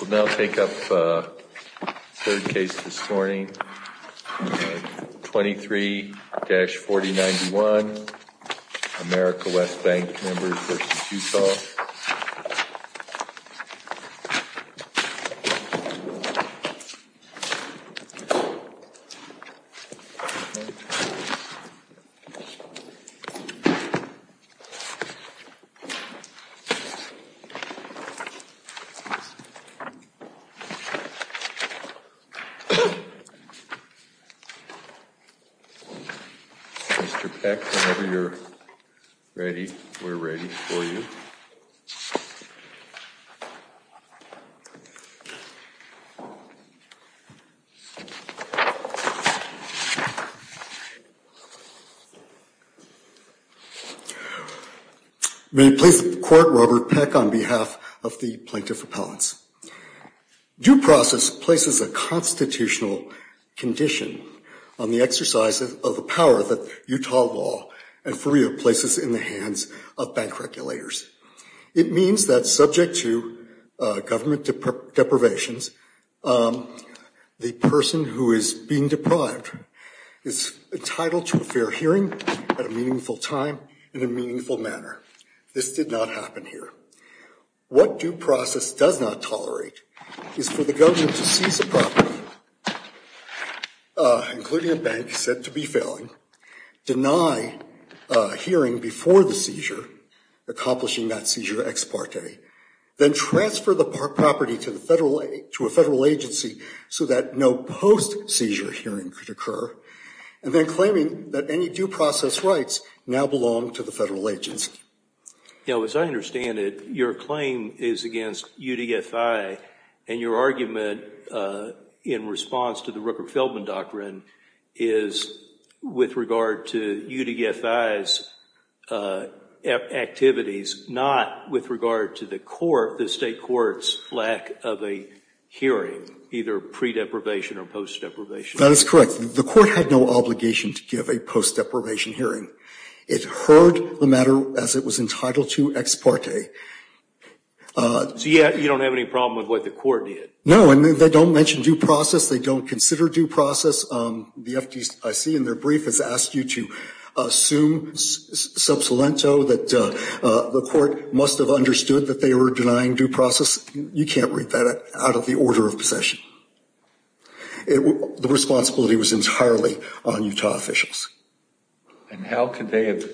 We'll now take up the third case this morning, 23-4091, America West Bank Members v. Utah. Mr. Peck, whenever you're ready, we're ready for you. May it please the court, Robert Peck on behalf of the plaintiff repellents. Due process places a constitutional condition on the exercise of a power that Utah law and FURIA places in the hands of bank regulators. It means that subject to government deprivations, the person who is being deprived is entitled to a fair hearing at a meaningful time in a meaningful manner. This did not happen here. What due process does not tolerate is for the government to seize the property, including a bank said to be failing, deny hearing before the seizure, accomplishing that seizure ex parte, then transfer the property to a federal agency so that no post-seizure hearing could occur, and then claiming that any due process rights now belong to the federal agency. Now, as I understand it, your claim is against UDFI, and your argument in response to the Rooker-Feldman doctrine is with regard to UDFI's activities, not with regard to the state court's lack of a hearing, either pre-deprivation or post-deprivation. That is correct. The court had no obligation to give a post-deprivation hearing. It heard the matter as it was entitled to ex parte. So you don't have any problem with what the court did? No, and they don't mention due process. They don't consider due process. The FDIC in their brief has asked you to assume sub saliento that the court must have understood that they were denying due process. You can't read that out of the order of possession. The responsibility was entirely on Utah officials. And how could they have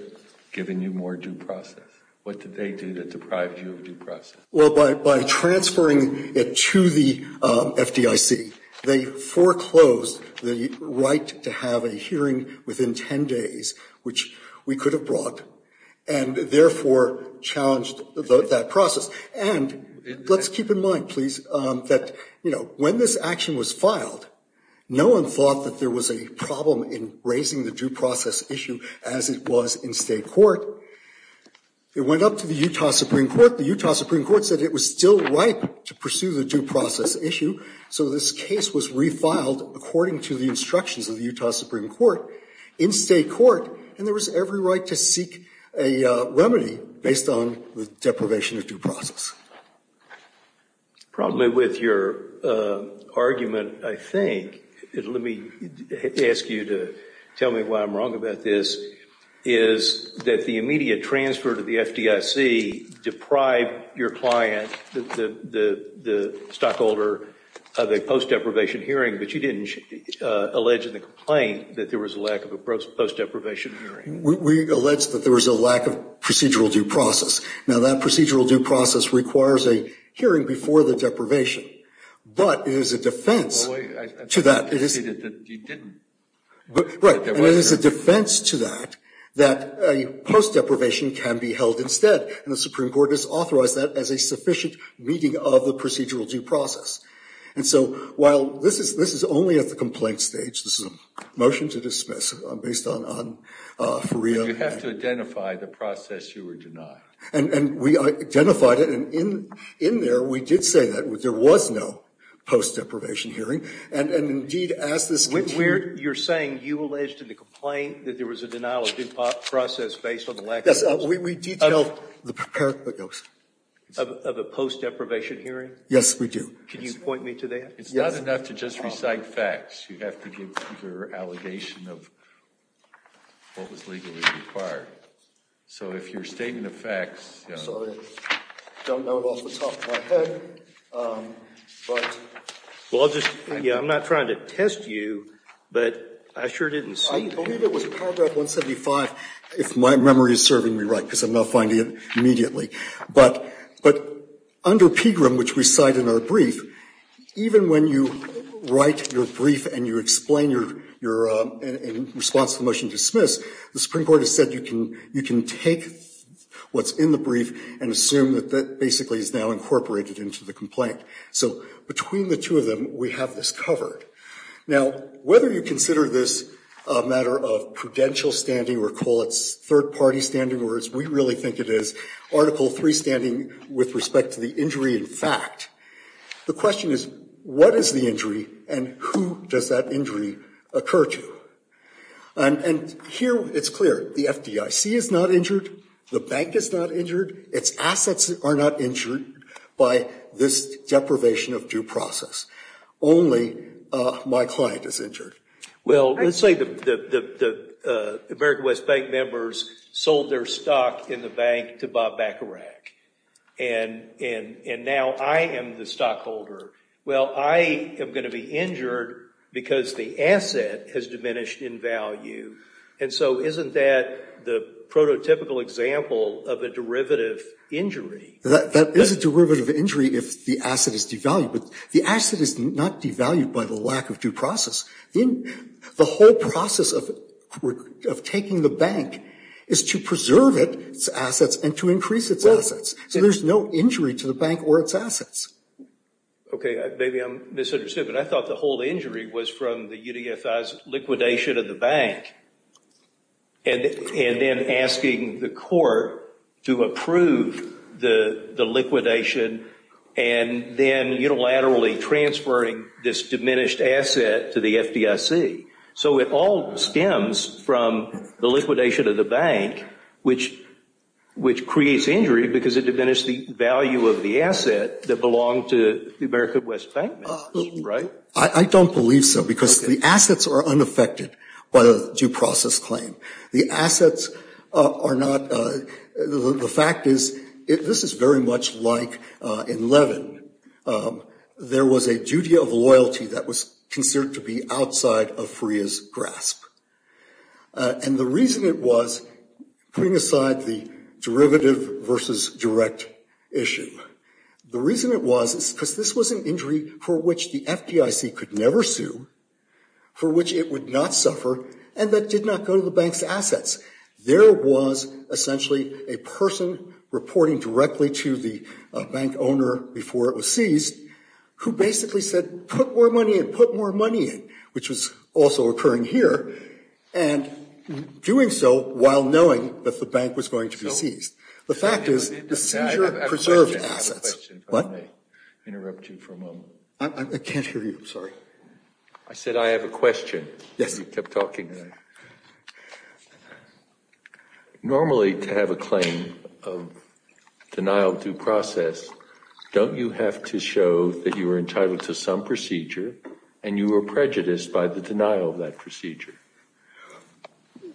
given you more due process? What did they do that deprived you of due process? Well, by transferring it to the FDIC, they foreclosed the right to have a hearing within 10 days, which we could have brought, and therefore challenged that process. And let's keep in mind, please, that, you know, when this action was filed, no one thought that there was a problem in raising the due process issue as it was in state court. It went up to the Utah Supreme Court. The Utah Supreme Court said it was still ripe to pursue the due process issue. So this case was refiled according to the instructions of the Utah Supreme Court in state court, and there was every right to seek a remedy based on the deprivation of due process. Probably with your argument, I think, let me ask you to tell me why I'm wrong about this, is that the immediate transfer to the FDIC deprived your client, the stockholder, of a post deprivation hearing, but you didn't allege in the complaint that there was a lack of a post deprivation hearing. We allege that there was a lack of procedural due process. Now, that procedural due process requires a hearing before the deprivation, but it is a defense to that. Well, wait, I thought you stated that you didn't. Right, and it is a defense to that, that a post deprivation can be held instead, and the Supreme Court has authorized that as a sufficient meeting of the procedural due process. And so while this is only at the complaint stage, this is a motion to dismiss based on Fariha. You have to identify the process you were denied. And we identified it, and in there we did say that there was no post deprivation hearing, and indeed as this case. You're saying you alleged in the complaint that there was a denial of due process based on the lack of. Yes, we detailed the. Of a post deprivation hearing? Yes, we do. Could you point me to that? It's not enough to just recite facts. You have to give your allegation of what was legally required. So if your statement of facts. I'm sorry, I don't know it off the top of my head, but. Well, I'll just. I'm not trying to test you, but I sure didn't see. I believe it was paragraph 175, if my memory is serving me right, because I'm not finding it immediately. But under PGRM, which we cite in our brief, even when you write your brief and you explain your response to the motion to dismiss, the Supreme Court has said you can take what's in the brief and assume that that basically is now incorporated into the complaint. So between the two of them, we have this covered. Now, whether you consider this a matter of prudential standing or call it third party standing, or as we really think it is, Article III standing with respect to the injury in fact, the question is, what is the injury and who does that injury occur to? And here it's clear. The FDIC is not injured. The bank is not injured. Its assets are not injured by this deprivation of due process. Only my client is injured. Well, let's say the American West Bank members sold their stock in the bank to Bob Bacharach, and now I am the stockholder. Well, I am going to be injured because the asset has diminished in value. And so isn't that the prototypical example of a derivative injury? That is a derivative injury if the asset is devalued, but the asset is not devalued by the lack of due process. The whole process of taking the bank is to preserve its assets and to increase its assets. So there's no injury to the bank or its assets. Okay. Maybe I'm misunderstood, but I thought the whole injury was from the UDFI's liquidation of the bank and then asking the court to approve the liquidation and then unilaterally transferring this diminished asset to the FDIC. So it all stems from the liquidation of the bank, which creates injury because it diminished the value of the asset that belonged to the American West Bank, right? I don't believe so because the assets are unaffected by the due process claim. The assets are not. The fact is, this is very much like in Levin. There was a duty of loyalty that was considered to be outside of Freya's grasp. And the reason it was, putting aside the derivative versus direct issue, the reason it was is because this was an injury for which the FDIC could never sue, for which it would not suffer, and that did not go to the bank's assets. There was essentially a person reporting directly to the bank owner before it was seized, who basically said, put more money in, put more money in, which was also occurring here, and doing so while knowing that the bank was going to be seized. The fact is, the seizure preserved assets. I have a question, if I may interrupt you for a moment. I can't hear you, sorry. I said I have a question. Yes. You kept talking. Normally, to have a claim of denial of due process, don't you have to show that you were entitled to some procedure and you were prejudiced by the denial of that procedure?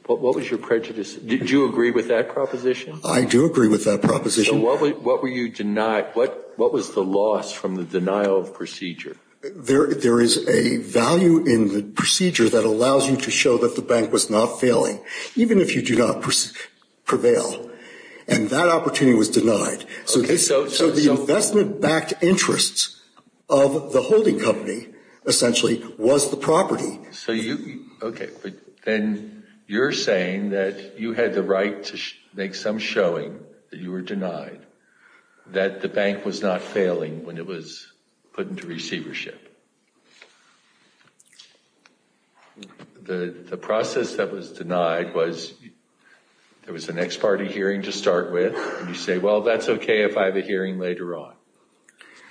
What was your prejudice? Did you agree with that proposition? I do agree with that proposition. So what were you denied? What was the loss from the denial of procedure? There is a value in the procedure that allows you to show that the bank was not failing, even if you do not prevail, and that opportunity was denied. So the investment-backed interests of the holding company, essentially, was the property. Okay. Then you're saying that you had the right to make some showing that you were denied, that the bank was not failing when it was put into receivership. The process that was denied was there was an ex parte hearing to start with, and you say, well, that's okay if I have a hearing later on.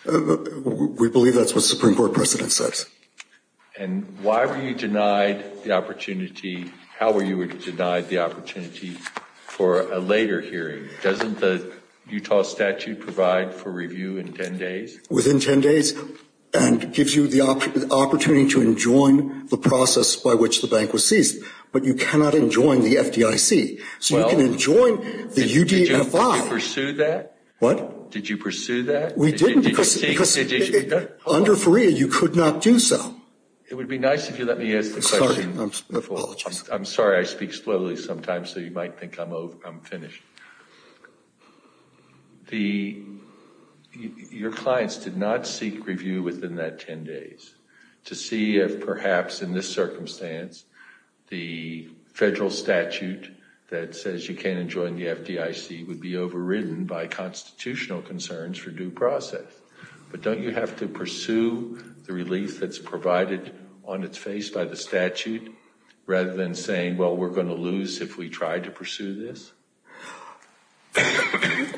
We believe that's what the Supreme Court precedent says. And why were you denied the opportunity? How were you denied the opportunity for a later hearing? Doesn't the Utah statute provide for review in 10 days? Within 10 days, and gives you the opportunity to enjoin the process by which the bank was seized. But you cannot enjoin the FDIC. So you can enjoin the UDFI. Did you pursue that? What? Did you pursue that? We didn't. Under FREA, you could not do so. It would be nice if you let me ask the question. I'm sorry. I speak slowly sometimes, so you might think I'm finished. Your clients did not seek review within that 10 days to see if, perhaps, in this circumstance, the federal statute that says you can't enjoin the FDIC would be overridden by constitutional concerns for due process. But don't you have to pursue the relief that's provided on its face by the statute, rather than saying, well, we're going to lose if we try to pursue this?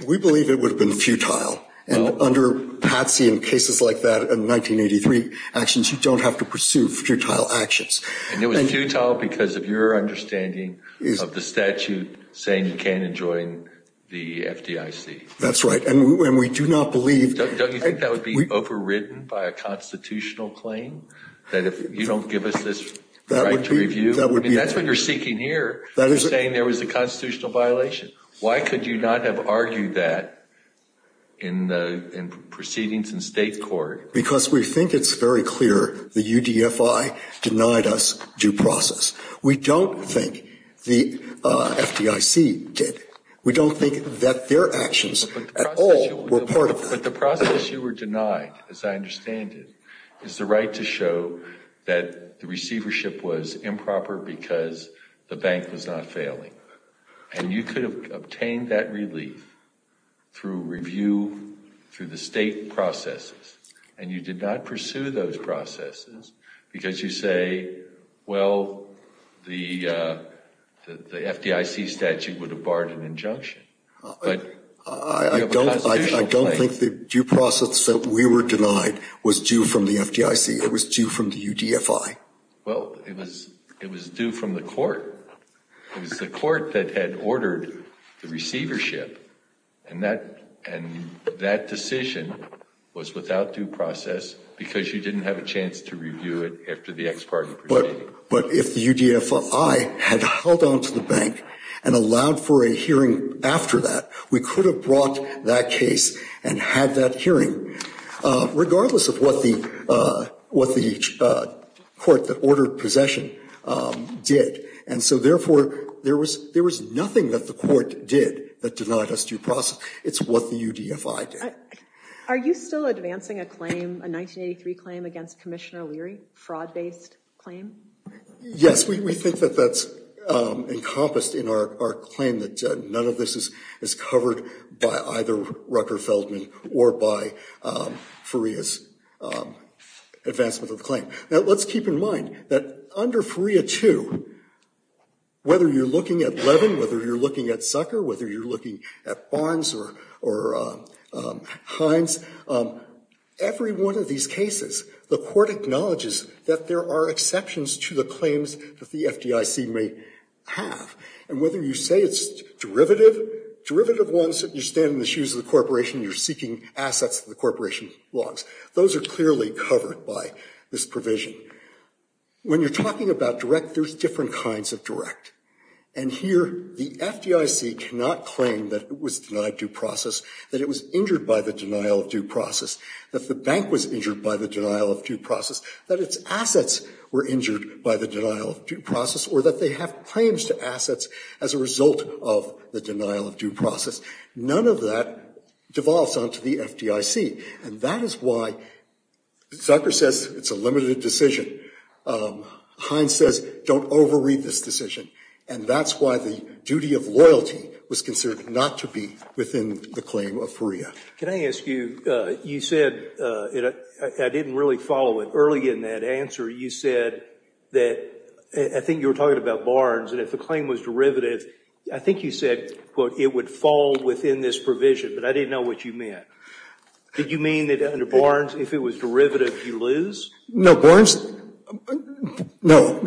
We believe it would have been futile. And under Patsy and cases like that in 1983, actions, you don't have to pursue futile actions. And it was futile because of your understanding of the statute saying you can't enjoin the FDIC. That's right. And we do not believe — Don't you think that would be overridden by a constitutional claim, that if you don't give us this right to review? That would be — I mean, that's what you're seeking here, saying there was a constitutional violation. Why could you not have argued that in proceedings in state court? Because we think it's very clear the UDFI denied us due process. We don't think the FDIC did. We don't think that their actions at all were part of that. But the process you were denied, as I understand it, is the right to show that the receivership was improper because the bank was not failing. And you could have obtained that relief through review, through the state processes. And you did not pursue those processes because you say, well, the FDIC statute would have barred an injunction. But you have a constitutional claim. I don't think the due process that we were denied was due from the FDIC. It was due from the UDFI. Well, it was due from the court. It was the court that had ordered the receivership. And that decision was without due process because you didn't have a chance to review it after the ex parte proceeding. But if the UDFI had held on to the bank and allowed for a hearing after that, we could have brought that case and had that hearing, regardless of what the court that ordered possession did. And so, therefore, there was nothing that the court did that denied us due process. It's what the UDFI did. Are you still advancing a claim, a 1983 claim, against Commissioner O'Leary, a fraud-based claim? Yes. We think that that's encompassed in our claim, that none of this is covered by either Rucker Feldman or by Faria's advancement of the claim. Now, let's keep in mind that under Faria 2, whether you're looking at Levin, whether you're looking at Zucker, whether you're looking at Barnes or Hines, every one of these cases, the court acknowledges that there are exceptions to the claims that the FDIC may have. And whether you say it's derivative, derivative ones, you're standing in the shoes of the corporation, you're seeking assets of the corporation logs, those are clearly covered by this provision. When you're talking about direct, there's different kinds of direct. And here, the FDIC cannot claim that it was denied due process, that it was injured by the denial of due process, that the bank was injured by the denial of due process, that its assets were injured by the denial of due process, or that they have claims to assets as a result of the denial of due process. None of that devolves onto the FDIC. And that is why Zucker says it's a limited decision. Hines says don't overread this decision. And that's why the duty of loyalty was considered not to be within the claim of Faria. Can I ask you, you said, I didn't really follow it. Early in that answer, you said that, I think you were talking about Barnes, and if the claim was derivative, I think you said, quote, it would fall within this provision. But I didn't know what you meant. Did you mean that under Barnes, if it was derivative, you lose? No, Barnes, no.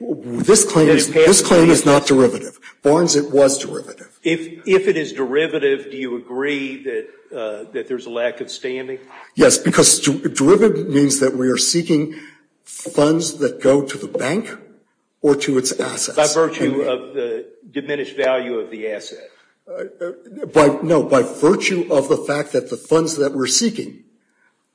This claim is not derivative. Barnes, it was derivative. If it is derivative, do you agree that there's a lack of standing? Yes, because derivative means that we are seeking funds that go to the bank or to its assets. By virtue of the diminished value of the asset. No, by virtue of the fact that the funds that we're seeking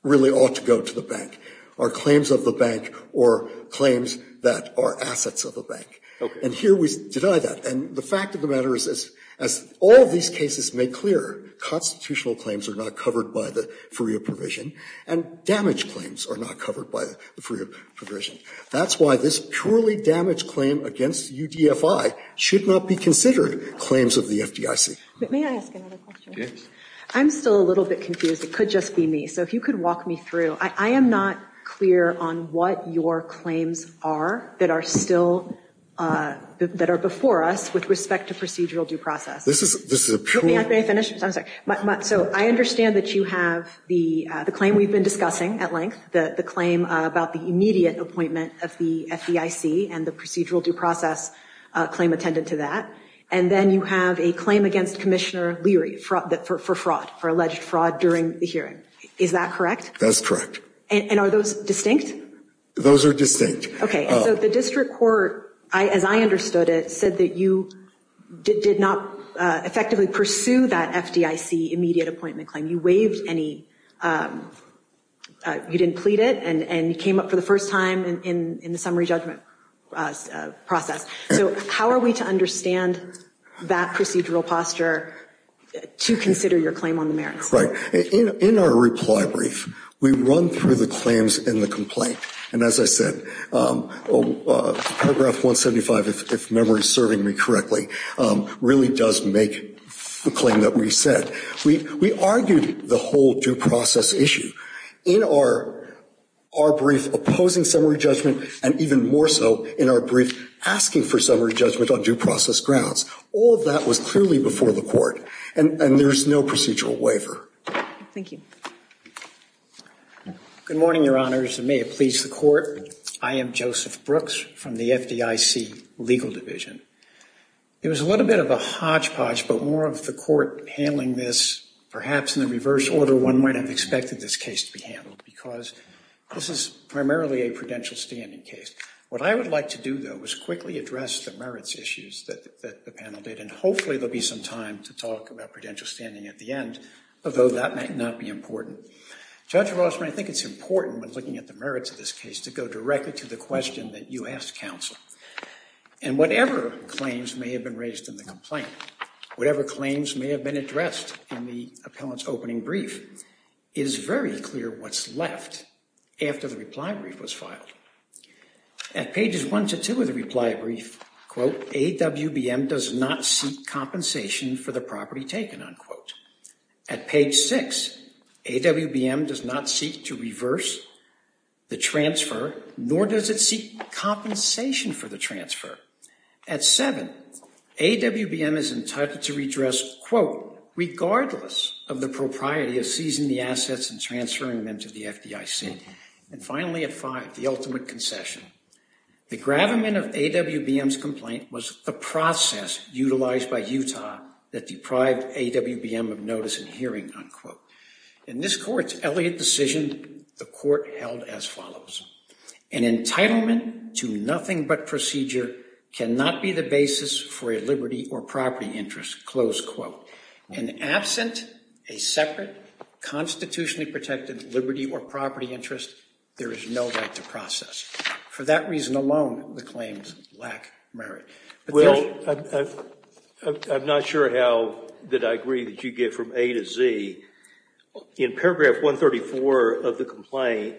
really ought to go to the bank, or claims of the bank, or claims that are assets of the bank. And here we deny that. And the fact of the matter is, as all of these cases make clear, constitutional claims are not covered by the Faria provision, and damaged claims are not covered by the Faria provision. That's why this purely damaged claim against UDFI should not be considered claims of the FDIC. May I ask another question? Yes. I'm still a little bit confused. It could just be me. So if you could walk me through. I am not clear on what your claims are that are still, that are before us, with respect to procedural due process. This is a pure. May I finish? I'm sorry. So I understand that you have the claim we've been discussing at length, the claim about the immediate appointment of the FDIC, and the procedural due process claim attendant to that. And then you have a claim against Commissioner Leary for fraud, for alleged fraud during the hearing. Is that correct? That's correct. And are those distinct? Those are distinct. Okay. So the district court, as I understood it, said that you did not effectively pursue that FDIC immediate appointment claim. You waived any, you didn't plead it, and you came up for the first time in the summary judgment process. So how are we to understand that procedural posture to consider your claim on the merits? Right. In our reply brief, we run through the claims in the complaint. And as I said, Paragraph 175, if memory is serving me correctly, really does make the claim that we said. We argued the whole due process issue in our brief opposing summary judgment and even more so in our brief asking for summary judgment on due process grounds. All of that was clearly before the court. And there's no procedural waiver. Thank you. Good morning, Your Honors, and may it please the court. I am Joseph Brooks from the FDIC Legal Division. It was a little bit of a hodgepodge, but more of the court handling this, perhaps in the reverse order one might have expected this case to be handled, because this is primarily a prudential standing case. What I would like to do, though, is quickly address the merits issues that the panel did, and hopefully there will be some time to talk about prudential standing at the end, although that might not be important. Judge Rossman, I think it's important when looking at the merits of this case to go directly to the question that you asked counsel. And whatever claims may have been raised in the complaint, whatever claims may have been addressed in the appellant's opening brief, At pages one to two of the reply brief, AWBM does not seek compensation for the property taken. At page six, AWBM does not seek to reverse the transfer, nor does it seek compensation for the transfer. At seven, AWBM is entitled to redress, regardless of the propriety of seizing the assets and transferring them to the FDIC. And finally, at five, the ultimate concession. The gravamen of AWBM's complaint was the process utilized by Utah that deprived AWBM of notice and hearing, unquote. In this court's Elliott decision, the court held as follows. An entitlement to nothing but procedure cannot be the basis for a liberty or property interest, close quote. And absent a separate constitutionally protected liberty or property interest, there is no right to process. For that reason alone, the claims lack merit. Well, I'm not sure how that I agree that you get from A to Z. In paragraph 134 of the complaint,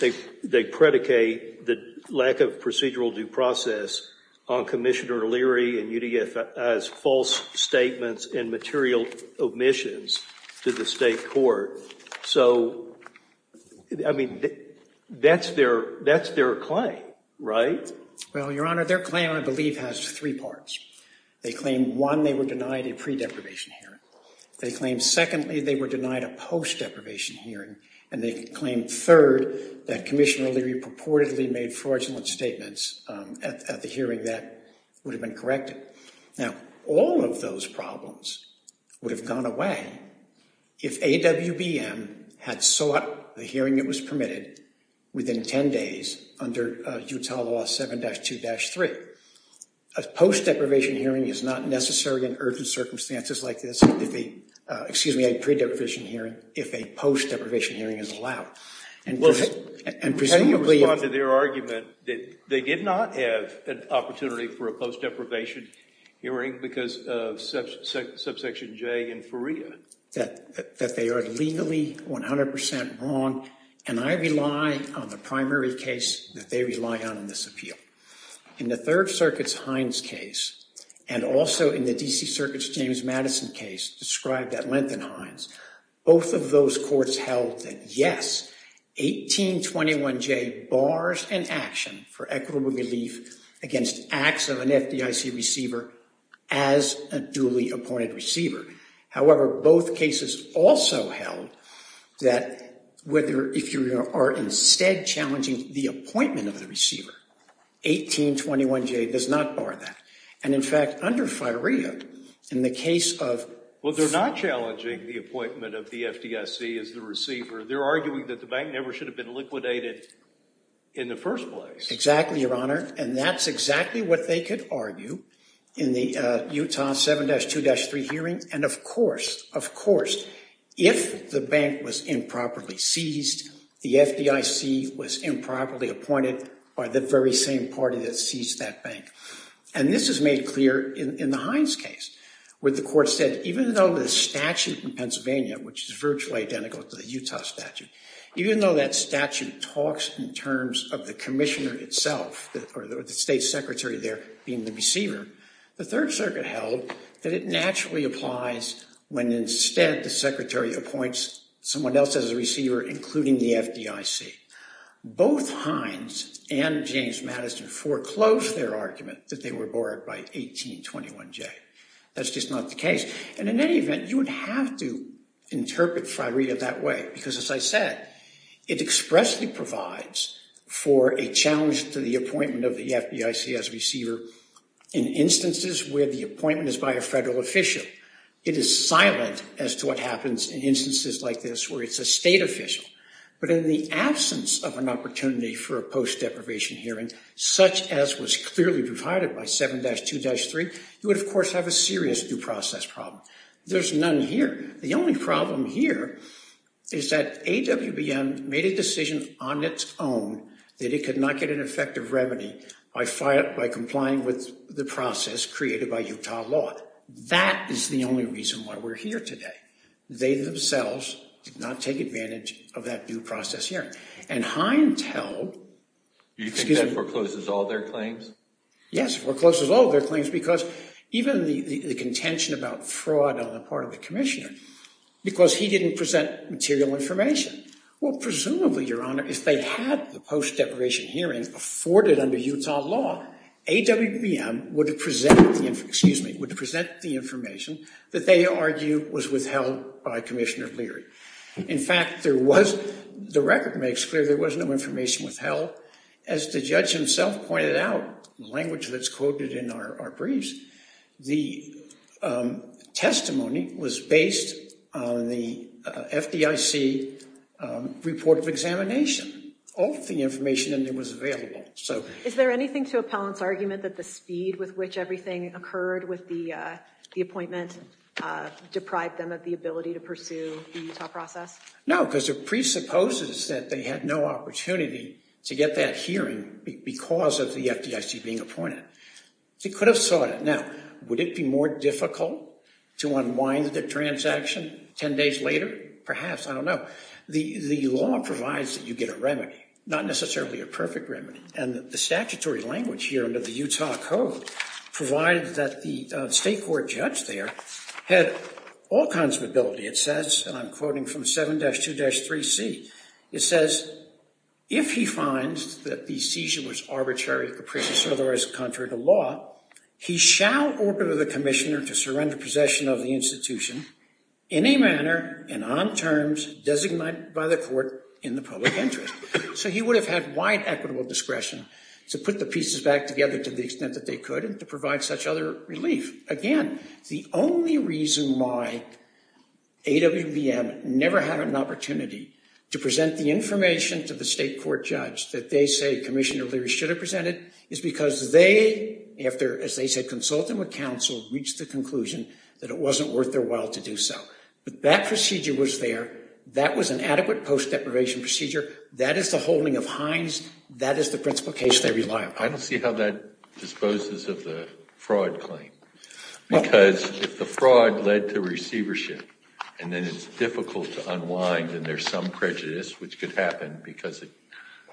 they predicate the lack of procedural due process on Commissioner Leary and UDFI's false statements and material omissions to the state court. So, I mean, that's their claim, right? Well, Your Honor, their claim, I believe, has three parts. They claim, one, they were denied a pre-deprivation hearing. They claim, secondly, they were denied a post-deprivation hearing. And they claim, third, that Commissioner Leary purportedly made fraudulent statements at the hearing that would have been corrected. Now, all of those problems would have gone away if AWBM had sought the hearing that was permitted within 10 days under Utah Law 7-2-3. A post-deprivation hearing is not necessary in urgent circumstances like this if a pre-deprivation hearing, if a post-deprivation hearing is allowed. And presumably- Well, how do you respond to their argument that they did not have an opportunity for a post-deprivation hearing because of subsection J in FERIA? That they are legally 100% wrong, and I rely on the primary case that they rely on in this appeal. In the Third Circuit's Hines case and also in the D.C. Circuit's James Madison case described at length in Hines, both of those courts held that, yes, 1821J bars an action for equitable relief against acts of an FDIC receiver as a duly appointed receiver. However, both cases also held that whether, if you are instead challenging the appointment of the receiver, 1821J does not bar that. And, in fact, under FERIA, in the case of- Well, they're not challenging the appointment of the FDIC as the receiver. They're arguing that the bank never should have been liquidated in the first place. Exactly, Your Honor. And that's exactly what they could argue in the Utah 7-2-3 hearing. And, of course, if the bank was improperly seized, the FDIC was improperly appointed by the very same party that seized that bank. And this is made clear in the Hines case where the court said, even though the statute in Pennsylvania, which is virtually identical to the Utah statute, even though that statute talks in terms of the commissioner itself, or the state secretary there being the receiver, the Third Circuit held that it naturally applies when, instead, the secretary appoints someone else as a receiver, including the FDIC. Both Hines and James Madison foreclosed their argument that they were barred by 1821J. That's just not the case. And in any event, you would have to interpret FRIREA that way because, as I said, it expressly provides for a challenge to the appointment of the FDIC as a receiver in instances where the appointment is by a federal official. It is silent as to what happens in instances like this where it's a state official. But in the absence of an opportunity for a post-deprivation hearing such as was clearly provided by 7-2-3, you would, of course, have a serious due process problem. There's none here. The only problem here is that AWBM made a decision on its own that it could not get an effective remedy by complying with the process created by Utah law. That is the only reason why we're here today. They themselves did not take advantage of that due process hearing. And Hines held— Do you think that forecloses all their claims? Yes, forecloses all their claims because even the contention about fraud on the part of the commissioner because he didn't present material information. Well, presumably, Your Honor, if they had the post-deprivation hearing afforded under Utah law, AWBM would present the information that they argue was withheld by Commissioner Leary. In fact, there was—the record makes clear there was no information withheld. As the judge himself pointed out, the language that's quoted in our briefs, the testimony was based on the FDIC report of examination of the information that was available. Is there anything to Appellant's argument that the speed with which everything occurred with the appointment deprived them of the ability to pursue the Utah process? No, because it presupposes that they had no opportunity to get that hearing because of the FDIC being appointed. They could have sought it. Now, would it be more difficult to unwind the transaction 10 days later? Perhaps. I don't know. The law provides that you get a remedy, not necessarily a perfect remedy. And the statutory language here under the Utah Code provided that the state court judge there had all kinds of ability. It says, and I'm quoting from 7-2-3C, it says, if he finds that the seizure was arbitrary or otherwise contrary to law, he shall order the commissioner to surrender possession of the institution in a manner and on terms designated by the court in the public interest. So he would have had wide equitable discretion to put the pieces back together to the extent that they could and to provide such other relief. Again, the only reason why AWBM never had an opportunity to present the information to the state court judge that they say Commissioner Leary should have presented is because they, as they said, consulted with counsel, reached the conclusion that it wasn't worth their while to do so. But that procedure was there. That was an adequate post-deprivation procedure. That is the holding of Hines. That is the principle case they rely upon. I don't see how that disposes of the fraud claim. Because if the fraud led to receivership and then it's difficult to unwind and there's some prejudice, which could happen because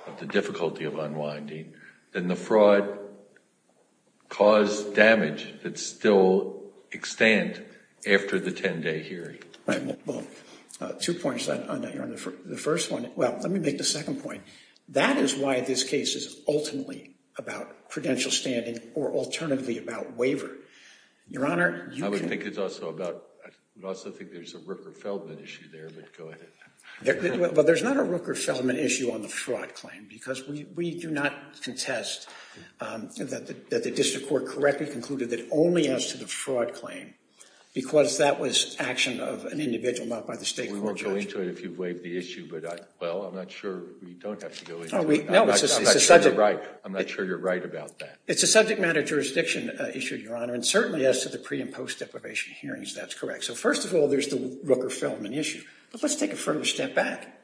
of the difficulty of unwinding, then the fraud caused damage that still extends after the 10-day hearing. Two points on that. The first one, well, let me make the second point. That is why this case is ultimately about credential standing or alternatively about waiver. Your Honor, you can— I would think it's also about—I would also think there's a Rooker-Feldman issue there, but go ahead. Well, there's not a Rooker-Feldman issue on the fraud claim because we do not contest that the district court correctly concluded that only as to the fraud claim because that was action of an individual, not by the state court judge. Well, I'm not sure we don't have to go into it. I'm not sure you're right about that. It's a subject matter jurisdiction issue, Your Honor, and certainly as to the pre- and post-deprivation hearings, that's correct. So first of all, there's the Rooker-Feldman issue. But let's take a further step back.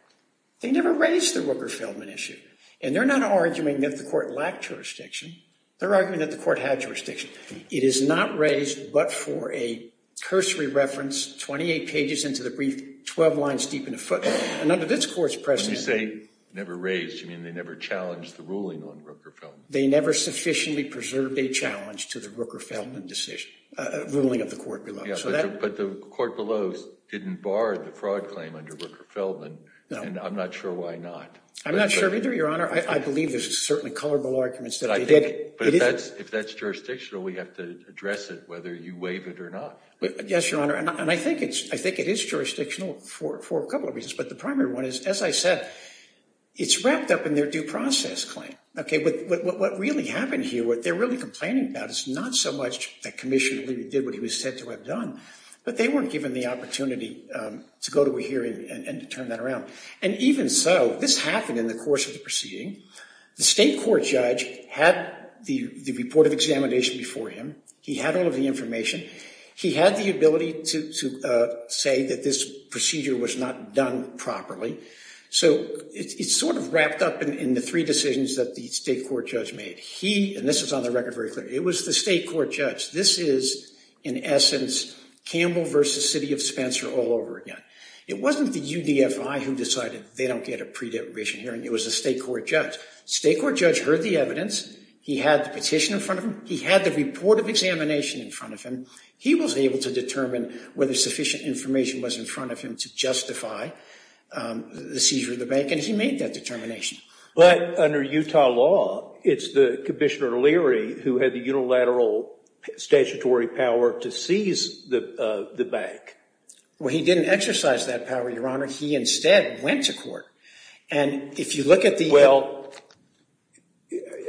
They never raised the Rooker-Feldman issue. And they're not arguing that the court lacked jurisdiction. They're arguing that the court had jurisdiction. It is not raised but for a cursory reference, 28 pages into the brief, 12 lines deep in a footnote. And under this court's precedent— When you say never raised, you mean they never challenged the ruling on Rooker-Feldman? They never sufficiently preserved a challenge to the Rooker-Feldman ruling of the court below. But the court below didn't bar the fraud claim under Rooker-Feldman. No. And I'm not sure why not. I'm not sure either, Your Honor. I believe there's certainly colorful arguments that they did. But if that's jurisdictional, we have to address it, whether you waive it or not. Yes, Your Honor. And I think it is jurisdictional for a couple of reasons. But the primary one is, as I said, it's wrapped up in their due process claim. What really happened here, what they're really complaining about is not so much that Commissioner Lee did what he was said to have done, but they weren't given the opportunity to go to a hearing and to turn that around. And even so, this happened in the course of the proceeding. The state court judge had the report of examination before him. He had all of the information. He had the ability to say that this procedure was not done properly. So it's sort of wrapped up in the three decisions that the state court judge made. He, and this is on the record very clearly, it was the state court judge. This is, in essence, Campbell versus City of Spencer all over again. It wasn't the UDFI who decided they don't get a pre-determination hearing. It was the state court judge. State court judge heard the evidence. He had the petition in front of him. He had the report of examination in front of him. He was able to determine whether sufficient information was in front of him to justify the seizure of the bank, and he made that determination. But under Utah law, it's the Commissioner Leary who had the unilateral statutory power to seize the bank. Well, he didn't exercise that power, Your Honor. He instead went to court. Well,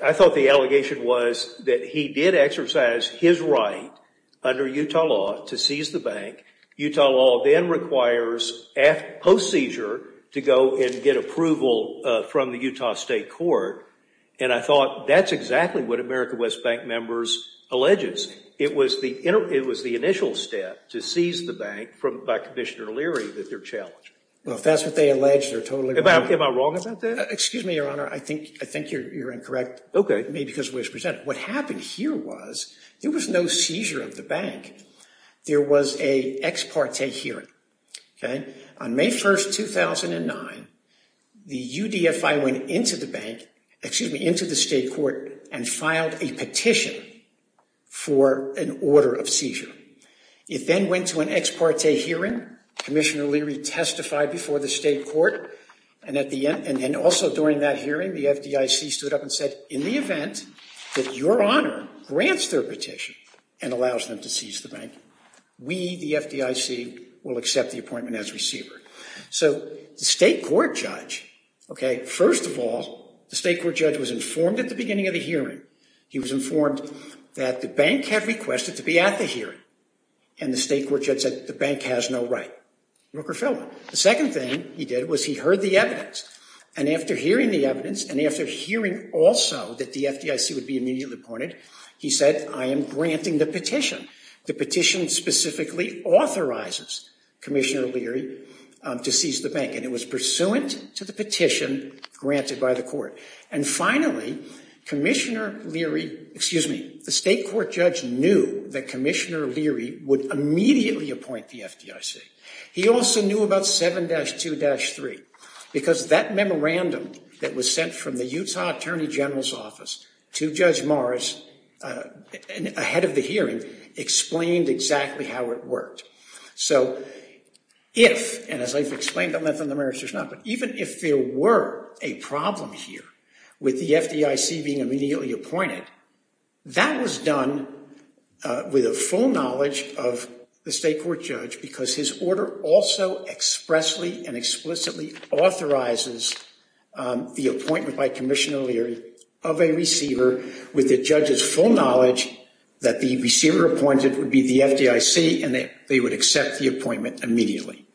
I thought the allegation was that he did exercise his right under Utah law to seize the bank. Utah law then requires post-seizure to go and get approval from the Utah state court, and I thought that's exactly what America West Bank members alleges. It was the initial step to seize the bank by Commissioner Leary that they're challenging. Well, if that's what they allege, they're totally wrong. Am I wrong about that? Excuse me, Your Honor. I think you're incorrect. Okay. Maybe because of the way it's presented. What happened here was there was no seizure of the bank. There was an ex parte hearing. On May 1, 2009, the UDFI went into the bank, excuse me, into the state court and filed a petition for an order of seizure. It then went to an ex parte hearing. Commissioner Leary testified before the state court, and also during that hearing, the FDIC stood up and said, in the event that Your Honor grants their petition and allows them to seize the bank, we, the FDIC, will accept the appointment as receiver. So the state court judge, okay, first of all, the state court judge was informed at the beginning of the hearing. He was informed that the bank had requested to be at the hearing, and the state court judge said the bank has no right. Rooker fell in. The second thing he did was he heard the evidence, and after hearing the evidence, and after hearing also that the FDIC would be immediately appointed, he said, I am granting the petition. The petition specifically authorizes Commissioner Leary to seize the bank, and it was pursuant to the petition granted by the court. And finally, Commissioner Leary, excuse me, the state court judge knew that Commissioner Leary would immediately appoint the FDIC. He also knew about 7-2-3 because that memorandum that was sent from the Utah Attorney General's office to Judge Morris ahead of the hearing explained exactly how it worked. So if, and as I've explained on the merits or not, but even if there were a problem here with the FDIC being immediately appointed, that was done with a full knowledge of the state court judge because his order also expressly and explicitly authorizes the appointment by Commissioner Leary of a receiver with the judge's full knowledge that the receiver appointed would be the FDIC, and they would accept the appointment immediately.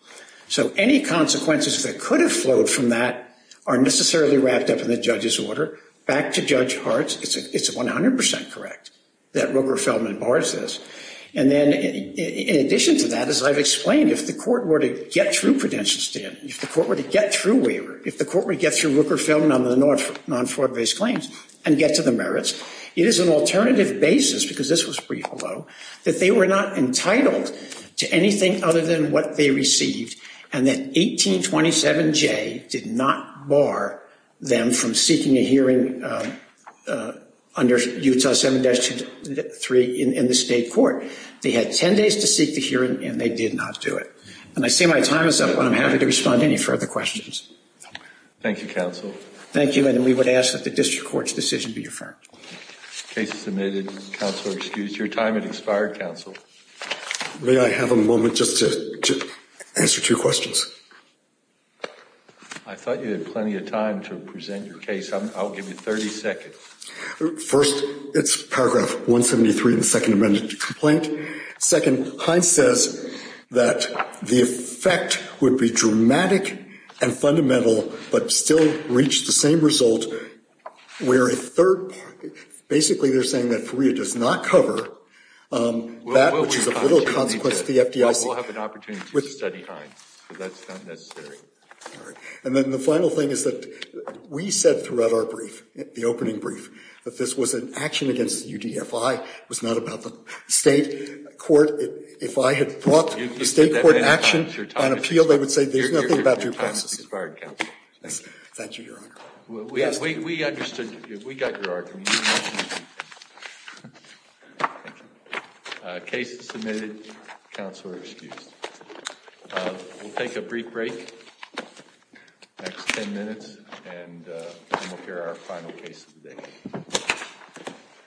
So any consequences that could have flowed from that are necessarily wrapped up in the judge's order. Back to Judge Hartz, it's 100 percent correct that Rooker fell in Morris' case. And then in addition to that, as I've explained, if the court were to get through credential stand, if the court were to get through waiver, if the court were to get through Rooker fell in on the non-fraud-based claims and get to the merits, it is an alternative basis, because this was brief, although, that they were not entitled to anything other than what they received, and that 1827J did not bar them from seeking a hearing under Utah 7-3 in the state court. They had 10 days to seek the hearing, and they did not do it. And I see my time is up, and I'm happy to respond to any further questions. Thank you, counsel. Thank you. And we would ask that the district court's decision be affirmed. Case submitted. Counselor excused. Your time has expired, counsel. May I have a moment just to answer two questions? I thought you had plenty of time to present your case. I'll give you 30 seconds. First, it's paragraph 173 in the Second Amendment complaint. Second, Hines says that the effect would be dramatic and fundamental, but still reach the same result where a third part, basically they're saying that FREA does not cover that, which is of little consequence to the FDIC. We'll have an opportunity to study Hines, but that's not necessary. All right. And then the final thing is that we said throughout our brief, the opening brief, that this was an action against the UDFI. It was not about the state court. If I had brought the state court action and appeal, they would say there's nothing about your process. Your time has expired, counsel. Thank you, Your Honor. We understood. We got your argument. Case submitted. Counselor excused. We'll take a brief break. Next ten minutes, and we'll hear our final case of the day.